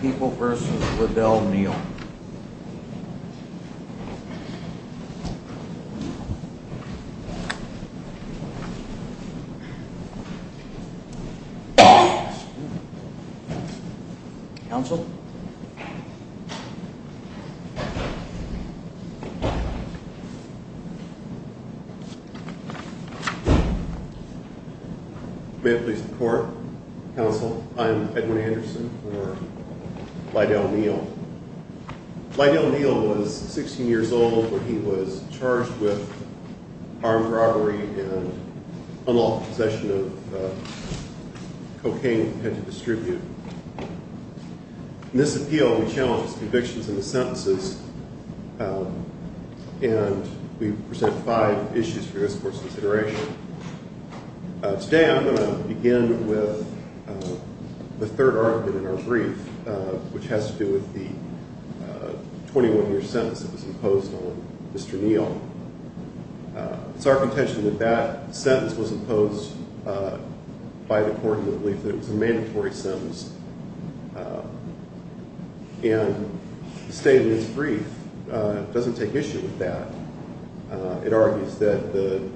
People v. Liddell-Neal Council Edwin Anderson Liddell-Neal The court in the belief that it was a mandatory sentence. And the statement is brief. It doesn't take issue with that. It argues that the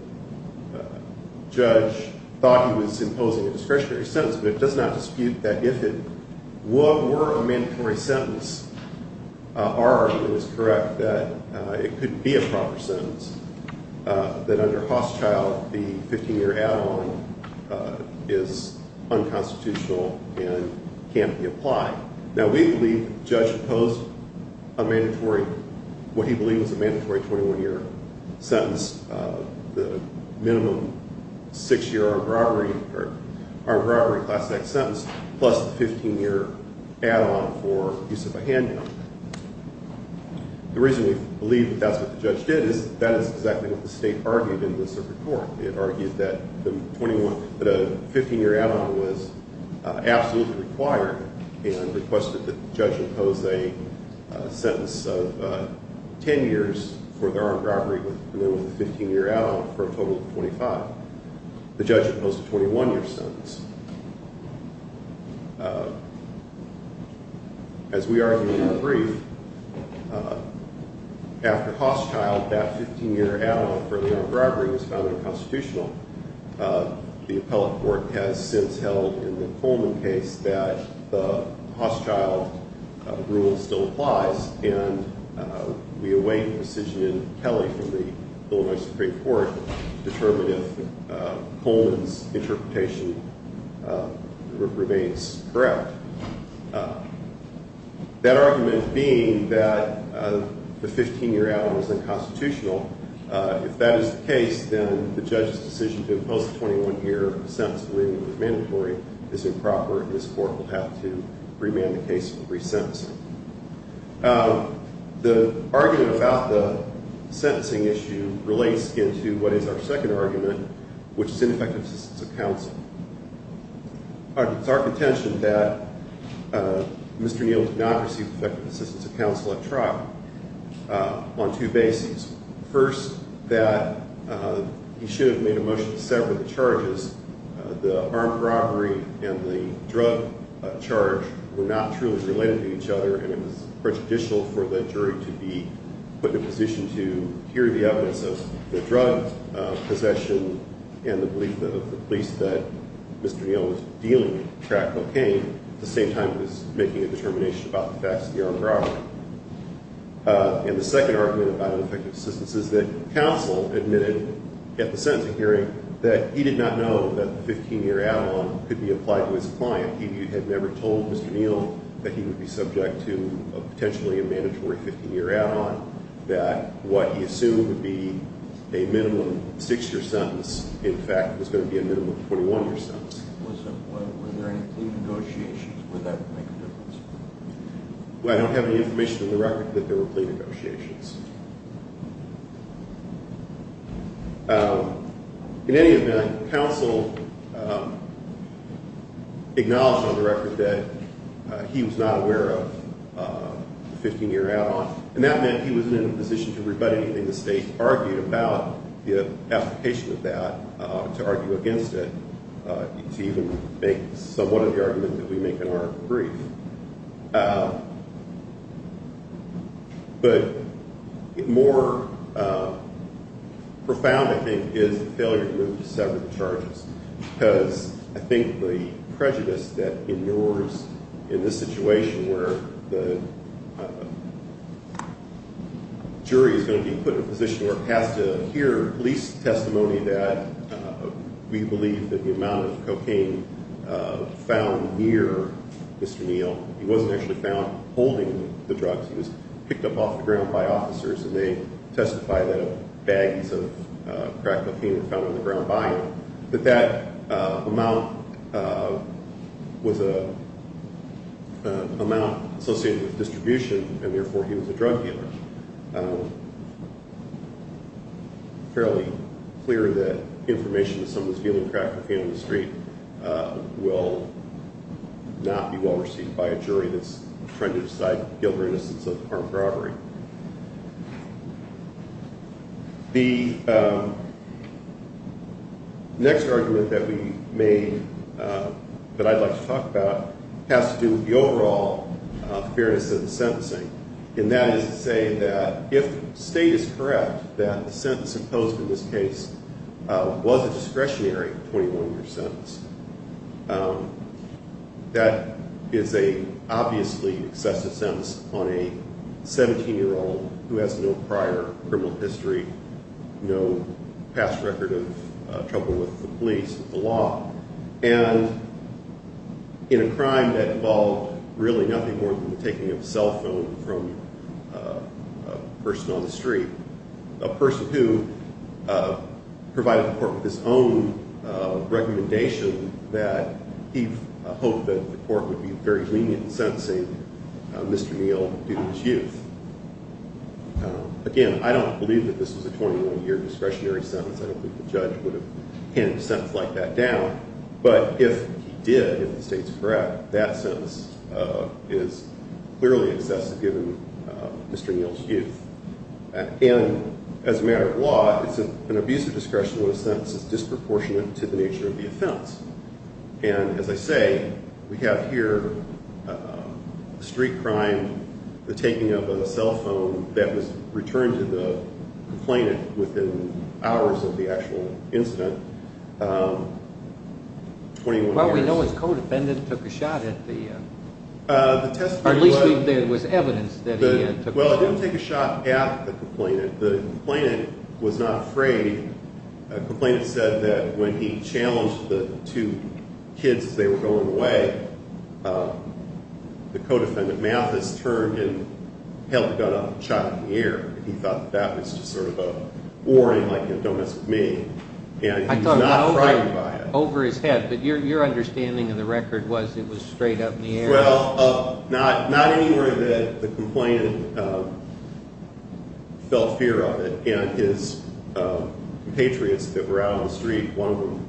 judge thought he was imposing a discretionary sentence, but it does not dispute that if it were a mandatory sentence, our argument is correct that it couldn't be a proper sentence. That under Hosschildt, the 15-year add-on is unconstitutional and can't be applied. Now, we believe the judge imposed a mandatory, what he believed was a mandatory 21-year sentence, the minimum 6-year armed robbery class act sentence, plus the 15-year add-on for use of a handgun. The reason we believe that's what the judge did is that is exactly what the state argued in this report. It argued that a 15-year add-on was absolutely required and requested that the judge impose a sentence of 10 years for the armed robbery with minimum 15-year add-on for a total of 25. The judge imposed a 21-year sentence. As we argued in the brief, after Hosschildt, that 15-year add-on for the armed robbery was found unconstitutional. The appellate court has since held in the Coleman case that the Hosschildt rule still applies. And we await a decision in Kelly from the Illinois Supreme Court to determine if Coleman's interpretation remains correct. That argument being that the 15-year add-on was unconstitutional, if that is the case, then the judge's decision to impose a 21-year sentence, we believe it was mandatory, is improper. And this court will have to remand the case and re-sentence it. The argument about the sentencing issue relates into what is our second argument, which is ineffective assistance of counsel. It's our contention that Mr. Neal did not receive effective assistance of counsel at trial on two bases. First, that he should have made a motion to sever the charges. The armed robbery and the drug charge were not truly related to each other, and it was prejudicial for the jury to be put in a position to hear the evidence of the drug possession and the belief of the police that Mr. Neal was dealing with crack cocaine at the same time as making a determination about the facts of the armed robbery. And the second argument about ineffective assistance is that counsel admitted at the sentencing hearing that he did not know that the 15-year add-on could be applied to his client. He had never told Mr. Neal that he would be subject to potentially a mandatory 15-year add-on, that what he assumed would be a minimum 6-year sentence, in fact, was going to be a minimum 21-year sentence. Was there any plea negotiations? Would that make a difference? Well, I don't have any information on the record that there were plea negotiations. In any event, counsel acknowledged on the record that he was not aware of the 15-year add-on, and that meant he wasn't in a position to rebut anything the state argued about the application of that, to argue against it, to even make somewhat of the argument that we make in our brief. But more profound, I think, is the failure to move to sever the charges, because I think the prejudice that ignores in this situation where the jury is going to be put in a position where it has to hear police testimony that we believe that the amount of cocaine found near Mr. Neal, he wasn't actually found holding the drugs. He was picked up off the ground by officers, and they testify that bags of crack cocaine were found on the ground by him. But that amount was an amount associated with distribution, and therefore he was a drug dealer. It's fairly clear that information that someone's dealing crack cocaine on the street will not be well received by a jury that's trying to decide guilt or innocence of armed robbery. The next argument that we made that I'd like to talk about has to do with the overall fairness of the sentencing, and that is to say that if the state is correct that the sentence imposed in this case was a discretionary 21-year sentence, that is an obviously excessive sentence on a 17-year-old who has no prior criminal history, no past record of trouble with the police, with the law, and in a crime that involved really nothing more than the taking of a cell phone from a person on the street, a person who provided the court with his own recommendation that he hoped that the court would be very lenient in sentencing Mr. Neal due to his youth. Again, I don't believe that this was a 21-year discretionary sentence. I don't think the judge would have handed a sentence like that down, but if he did, if the state's correct, that sentence is clearly excessive given Mr. Neal's youth, and as a matter of law, it's an abusive discretion when a sentence is disproportionate to the nature of the offense, and as I say, we have here a street crime, the taking of a cell phone that was returned to the complainant within hours of the actual incident, 21 years. Well, we know his co-defendant took a shot at the – or at least there was evidence that he took a shot. Well, it didn't take a shot at the complainant. The complainant was not afraid. The complainant said that when he challenged the two kids as they were going away, the co-defendant, Mathis, turned and held a gun up and shot in the ear. He thought that that was just sort of a warning like, don't mess with me, and he was not frightened by it. I thought it was over his head, but your understanding of the record was it was straight up in the air. Well, not anywhere that the complainant felt fear of it, and his compatriots that were out on the street, one of them,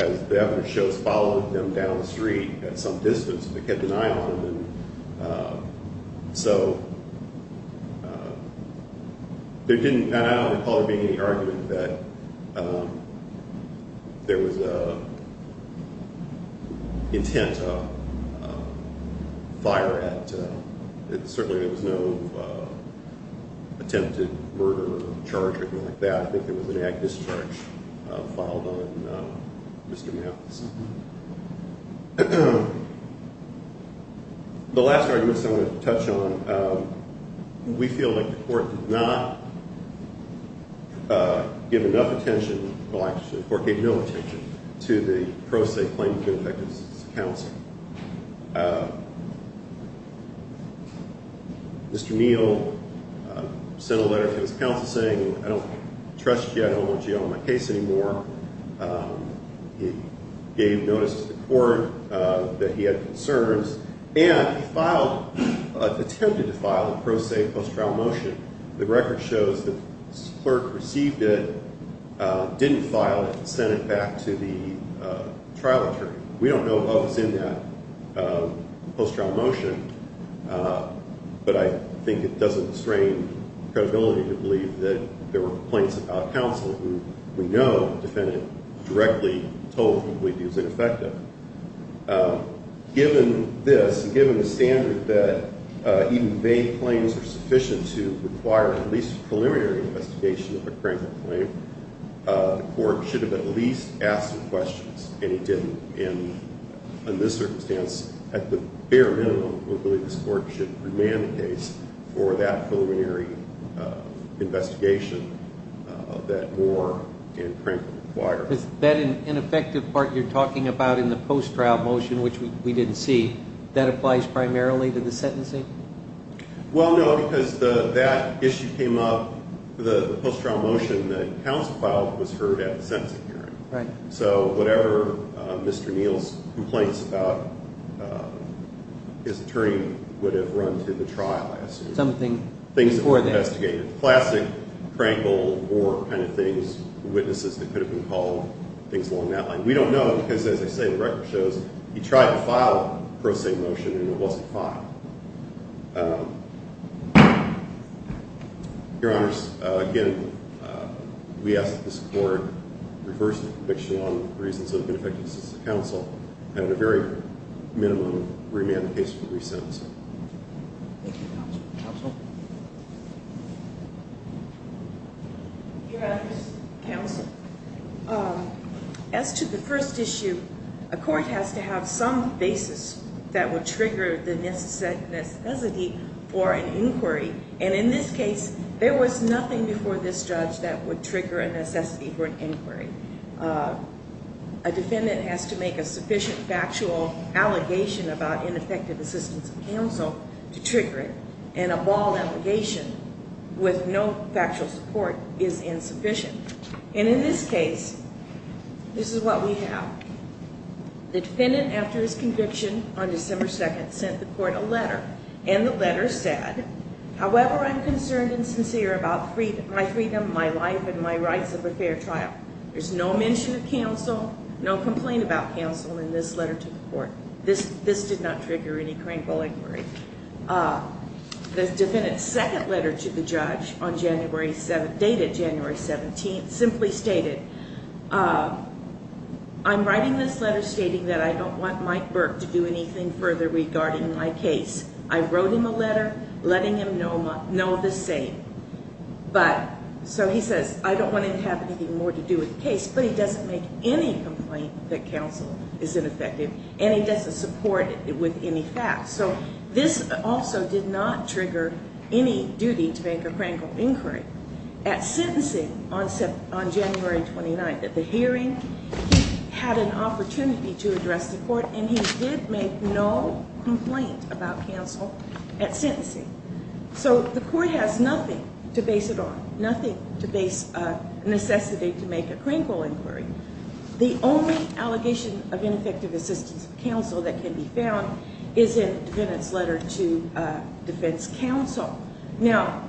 as the evidence shows, followed them down the street at some distance and they kept an eye on them, so there didn't – I don't recall there being any argument that there was an intent to fire at – certainly there was no attempted murder or charge or anything like that. I think there was an act discharge filed on Mr. Mathis. The last argument I want to touch on, we feel like the court did not give enough attention – well, actually the court gave no attention to the pro se claim to be effective as a counsel. Mr. Neal sent a letter to his counsel saying, I don't trust you, I don't want you on my case anymore. He gave notice to the court that he had concerns, and he filed – attempted to file a pro se post-trial motion. The record shows that this clerk received it, didn't file it, and sent it back to the trial attorney. We don't know what was in that post-trial motion, but I think it doesn't restrain credibility to believe that there were complaints about counsel who we know defended directly, totally, completely as ineffective. Given this, given the standard that even vague claims are sufficient to require at least a preliminary investigation of a cranked up claim, the court should have at least asked some questions, and it didn't. In this circumstance, at the bare minimum, we believe this court should remand the case for that preliminary investigation of that war and crank-up requirement. That ineffective part you're talking about in the post-trial motion, which we didn't see, that applies primarily to the sentencing? Well, no, because that issue came up – the post-trial motion that counsel filed was heard at the sentencing hearing. Right. So whatever Mr. Neal's complaints about his attorney would have run through the trial, I assume. Something before that. Classic crankle war kind of things, witnesses that could have been called, things along that line. We don't know because, as I say, the record shows he tried to file a pro se motion and it wasn't filed. Your Honors, again, we ask that this court reverse the conviction on reasons of ineffective assistance to counsel and at the very minimum remand the case for resentencing. Thank you, Counsel. Counsel? Your Honors, Counsel, as to the first issue, a court has to have some basis that would trigger the necessity for an inquiry. And in this case, there was nothing before this judge that would trigger a necessity for an inquiry. A defendant has to make a sufficient factual allegation about ineffective assistance of counsel to trigger it and a bald allegation with no factual support is insufficient. And in this case, this is what we have. The defendant, after his conviction on December 2nd, sent the court a letter. And the letter said, however, I'm concerned and sincere about my freedom, my life, and my rights of a fair trial. There's no mention of counsel, no complaint about counsel in this letter to the court. This did not trigger any crankball inquiry. The defendant's second letter to the judge on January 7th, dated January 17th, simply stated, I'm writing this letter stating that I don't want Mike Burke to do anything further regarding my case. I wrote him a letter letting him know the same. But so he says, I don't want to have anything more to do with the case, but he doesn't make any complaint that counsel is ineffective, and he doesn't support it with any facts. So this also did not trigger any duty to make a crankball inquiry. At sentencing on January 29th at the hearing, he had an opportunity to address the court, and he did make no complaint about counsel at sentencing. So the court has nothing to base it on, nothing to necessitate to make a crankball inquiry. The only allegation of ineffective assistance of counsel that can be found is in the defendant's letter to defense counsel. Now,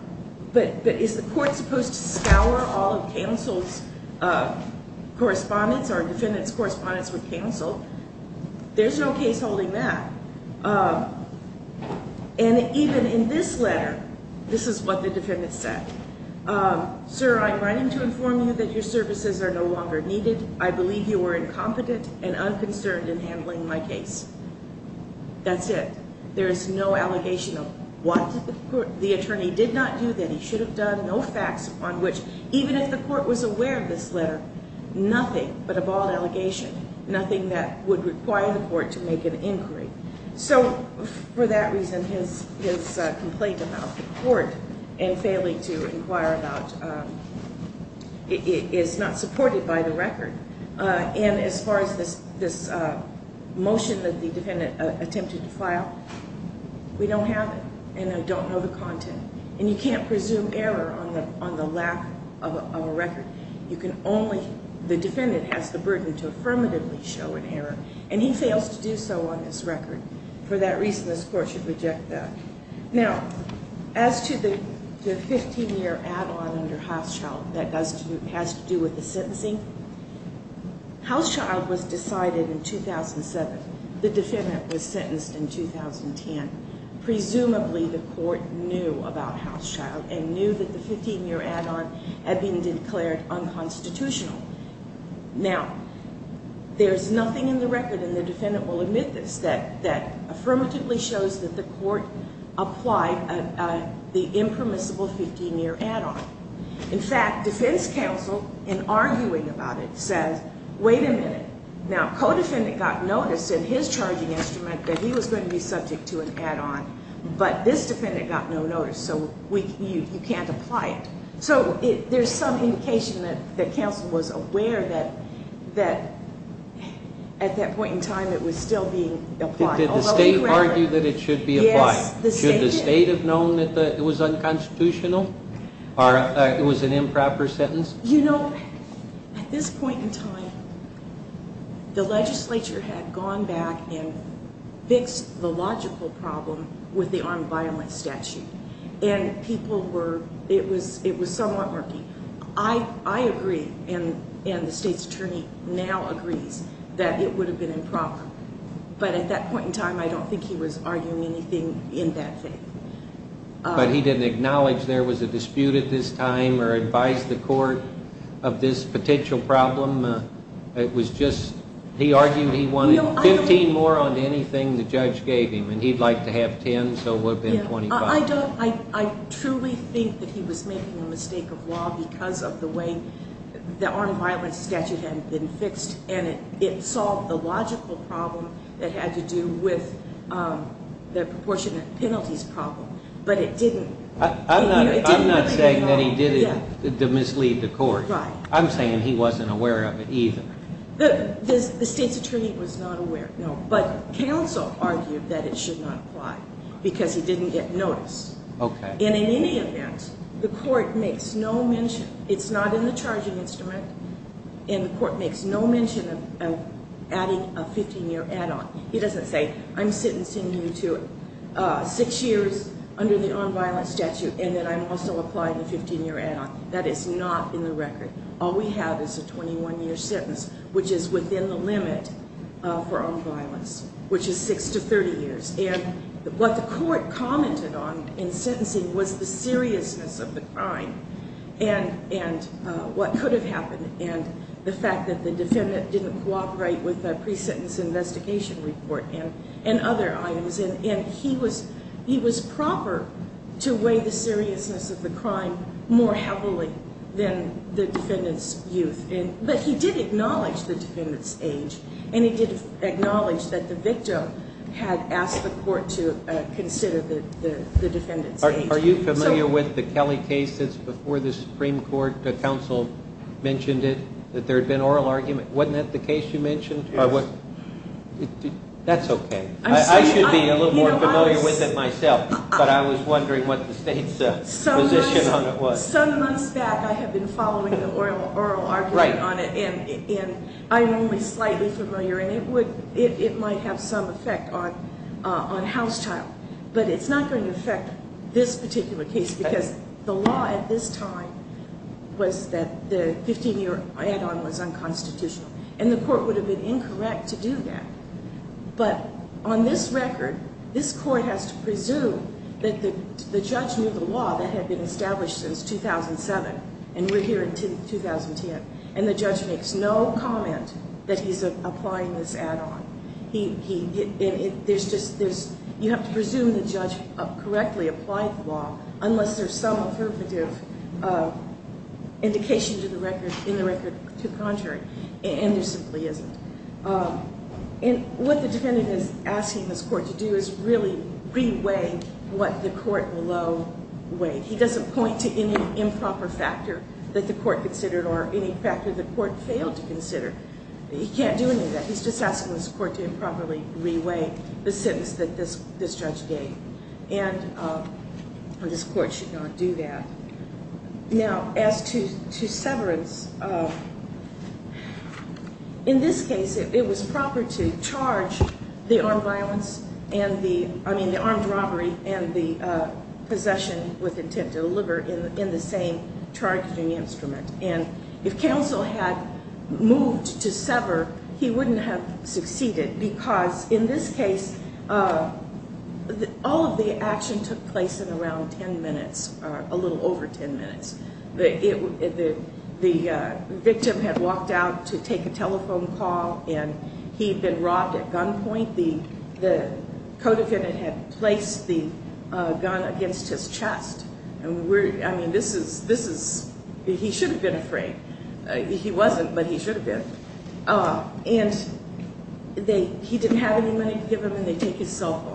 but is the court supposed to scour all of counsel's correspondence or a defendant's correspondence with counsel? There's no case holding that. And even in this letter, this is what the defendant said. Sir, I'm writing to inform you that your services are no longer needed. I believe you are incompetent and unconcerned in handling my case. That's it. There is no allegation of what the attorney did not do that he should have done, no facts on which even if the court was aware of this letter, nothing but a bald allegation, nothing that would require the court to make an inquiry. So for that reason, his complaint about the court and failing to inquire about it is not supported by the record. And as far as this motion that the defendant attempted to file, we don't have it, and I don't know the content. And you can't presume error on the lack of a record. The defendant has the burden to affirmatively show an error, and he fails to do so on his record. For that reason, this court should reject that. Now, as to the 15-year add-on under Housechild that has to do with the sentencing, Housechild was decided in 2007. The defendant was sentenced in 2010. Presumably, the court knew about Housechild and knew that the 15-year add-on had been declared unconstitutional. Now, there's nothing in the record, and the defendant will admit this, that affirmatively shows that the court applied the impermissible 15-year add-on. In fact, defense counsel, in arguing about it, says, wait a minute. Now, co-defendant got notice in his charging instrument that he was going to be subject to an add-on, but this defendant got no notice, so you can't apply it. So there's some indication that counsel was aware that at that point in time it was still being applied. Did the state argue that it should be applied? Yes, the state did. Should the state have known that it was unconstitutional or it was an improper sentence? You know, at this point in time, the legislature had gone back and fixed the logical problem with the armed violence statute. And people were, it was somewhat murky. I agree, and the state's attorney now agrees, that it would have been improper. But at that point in time, I don't think he was arguing anything in that faith. But he didn't acknowledge there was a dispute at this time or advise the court of this potential problem. It was just, he argued he wanted 15 more on anything the judge gave him. And he'd like to have 10, so it would have been 25. I truly think that he was making a mistake of law because of the way the armed violence statute had been fixed. And it solved the logical problem that had to do with the proportionate penalties problem. But it didn't. I'm not saying that he did it to mislead the court. Right. I'm saying he wasn't aware of it either. The state's attorney was not aware, no. But counsel argued that it should not apply because it didn't get noticed. Okay. And in any event, the court makes no mention. It's not in the charging instrument. And the court makes no mention of adding a 15-year add-on. He doesn't say, I'm sentencing you to six years under the armed violence statute and that I'm also applying a 15-year add-on. That is not in the record. All we have is a 21-year sentence, which is within the limit for armed violence, which is six to 30 years. And what the court commented on in sentencing was the seriousness of the crime and what could have happened and the fact that the defendant didn't cooperate with the pre-sentence investigation report and other items. And he was proper to weigh the seriousness of the crime more heavily than the defendant's youth. But he did acknowledge the defendant's age, and he did acknowledge that the victim had asked the court to consider the defendant's age. Are you familiar with the Kelly case that's before the Supreme Court? The counsel mentioned it, that there had been oral argument. Wasn't that the case you mentioned? Yes. That's okay. I should be a little more familiar with it myself, but I was wondering what the state's position on it was. Well, some months back I had been following the oral argument on it, and I'm only slightly familiar, and it might have some effect on Housetile. But it's not going to affect this particular case because the law at this time was that the 15-year add-on was unconstitutional, and the court would have been incorrect to do that. But on this record, this court has to presume that the judge knew the law that had been established since 2007, and we're here in 2010, and the judge makes no comment that he's applying this add-on. You have to presume the judge correctly applied the law unless there's some affirmative indication in the record to the contrary, and there simply isn't. And what the defendant is asking this court to do is really re-weigh what the court below weighed. He doesn't point to any improper factor that the court considered or any factor the court failed to consider. He can't do any of that. He's just asking this court to improperly re-weigh the sentence that this judge gave, and this court should not do that. Now, as to severance, in this case, it was proper to charge the armed robbery and the possession with intent to deliver in the same charging instrument. And if counsel had moved to sever, he wouldn't have succeeded because in this case, all of the action took place in around 10 minutes, a little over 10 minutes. The victim had walked out to take a telephone call, and he had been robbed at gunpoint. The co-defendant had placed the gun against his chest. I mean, this is, he should have been afraid. He wasn't, but he should have been. And they, he didn't have any money to give him, and they take his cell phone.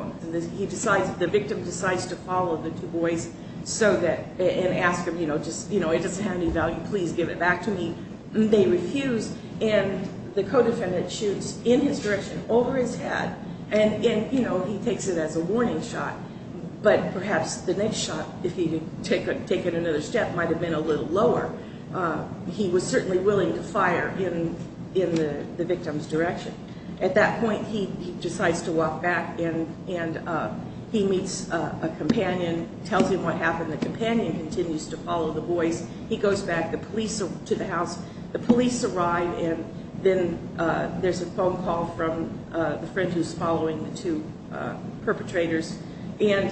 He decides, the victim decides to follow the two boys so that, and ask him, you know, just, you know, it doesn't have any value, please give it back to me. They refuse, and the co-defendant shoots in his direction over his head, and, you know, he takes it as a warning shot. But perhaps the next shot, if he had taken another step, might have been a little lower. He was certainly willing to fire in the victim's direction. At that point, he decides to walk back, and he meets a companion, tells him what happened. The companion continues to follow the boys. He goes back to the house. The police arrive, and then there's a phone call from the friend who's following the two perpetrators. And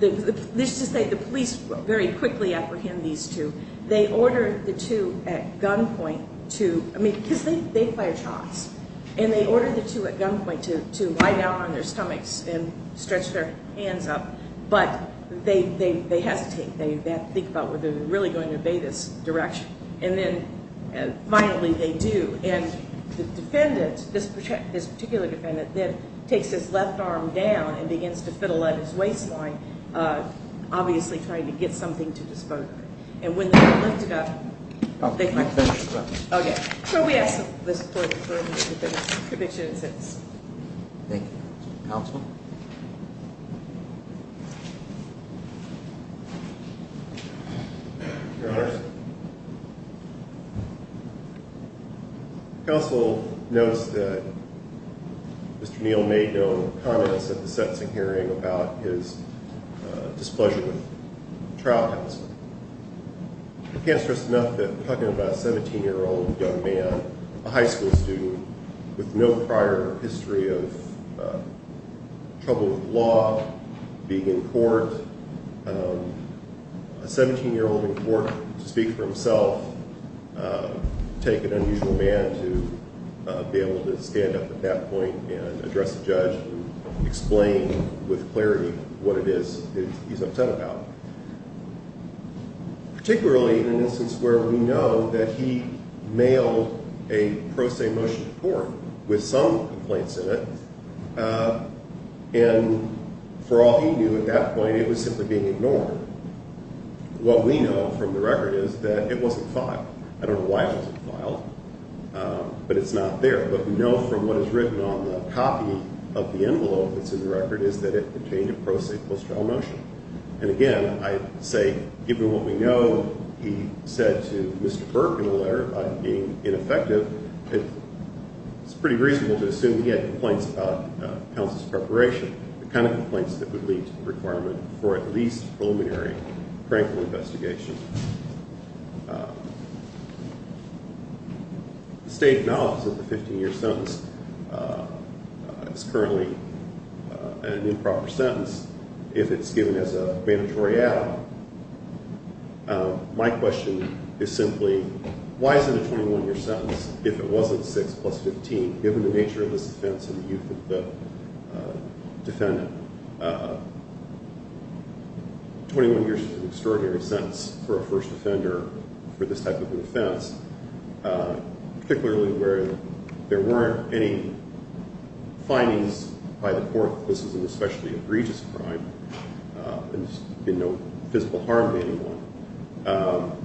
let's just say the police very quickly apprehend these two. They order the two at gunpoint to, I mean, because they fire shots. And they order the two at gunpoint to lie down on their stomachs and stretch their hands up. But they hesitate. They think about whether they're really going to obey this direction. And then, finally, they do. And the defendant, this particular defendant, then takes his left arm down and begins to fiddle at his waistline, obviously trying to get something to dispose of him. And when they lift him up, they hold him. Okay. So we have this court's verdict that the conviction exists. Thank you. Counsel? Counsel? Your Honors. Counsel notes that Mr. Neal made no comments at the sentencing hearing about his displeasure with trial counsel. I can't stress enough that we're talking about a 17-year-old young man, a high school student, with no prior history of trouble with law, being in court. A 17-year-old in court to speak for himself would take an unusual man to be able to stand up at that point and address the judge and explain with clarity what it is he's upset about, particularly in an instance where we know that he mailed a pro se motion to court with some complaints in it. And for all he knew at that point, it was simply being ignored. What we know from the record is that it wasn't filed. I don't know why it wasn't filed, but it's not there. But we know from what is written on the copy of the envelope that's in the record is that it contained a pro se post-trial motion. And, again, I say, given what we know, he said to Mr. Burke in a letter about him being ineffective, it's pretty reasonable to assume he had complaints about counsel's preparation, the kind of complaints that would lead to a requirement for at least preliminary, frank investigation. The state acknowledges that the 15-year sentence is currently an improper sentence if it's given as a mandatory add-on. My question is simply, why is it a 21-year sentence if it wasn't 6 plus 15, given the nature of this offense and the youth of the defendant? 21 years is an extraordinary sentence for a first offender for this type of an offense, particularly where there weren't any findings by the court that this was an especially egregious crime. There's been no physical harm to anyone.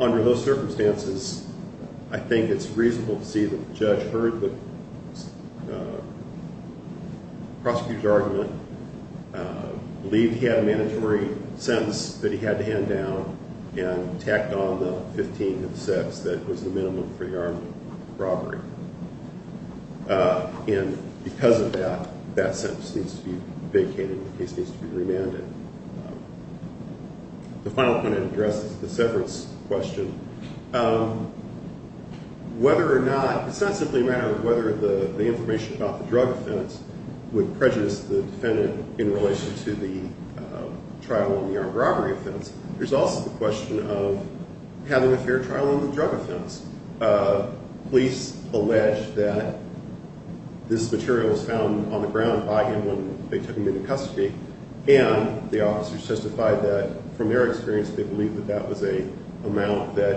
Under those circumstances, I think it's reasonable to see that the judge heard the prosecutor's argument, believed he had a mandatory sentence that he had to hand down, and tacked on the 15 cents that was the minimum for the armed robbery. And because of that, that sentence needs to be vacated and the case needs to be remanded. The final point I'd address is the severance question. It's not simply a matter of whether the information about the drug offense would prejudice the defendant in relation to the trial on the armed robbery offense. There's also the question of having a fair trial on the drug offense. Police allege that this material was found on the ground by him when they took him into custody, and the officers testified that, from their experience, they believe that that was an amount that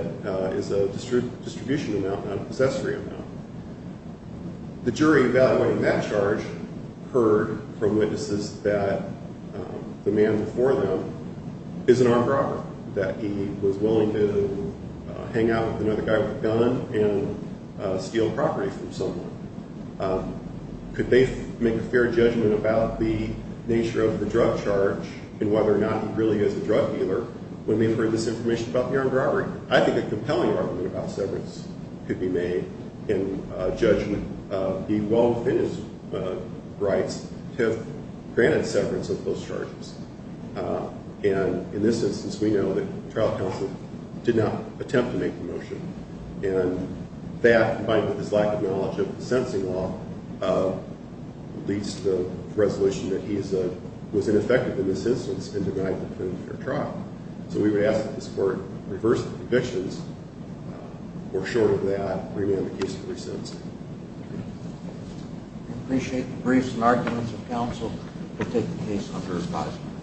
is a distribution amount, not a possessory amount. The jury evaluating that charge heard from witnesses that the man before them is an armed robber, that he was willing to hang out with another guy with a gun and steal property from someone. Could they make a fair judgment about the nature of the drug charge and whether or not he really is a drug dealer when they've heard this information about the armed robbery? I think a compelling argument about severance could be made in judgment. He well within his rights to have granted severance of those charges. And in this instance, we know that trial counsel did not attempt to make the motion. And that, combined with his lack of knowledge of the sentencing law, leads to the resolution that he was ineffective in this instance in denying the defendant a fair trial. So we would ask that this Court reverse the convictions or, short of that, bring down the case for resentencing. I appreciate the briefs and arguments of counsel to take the case under revising.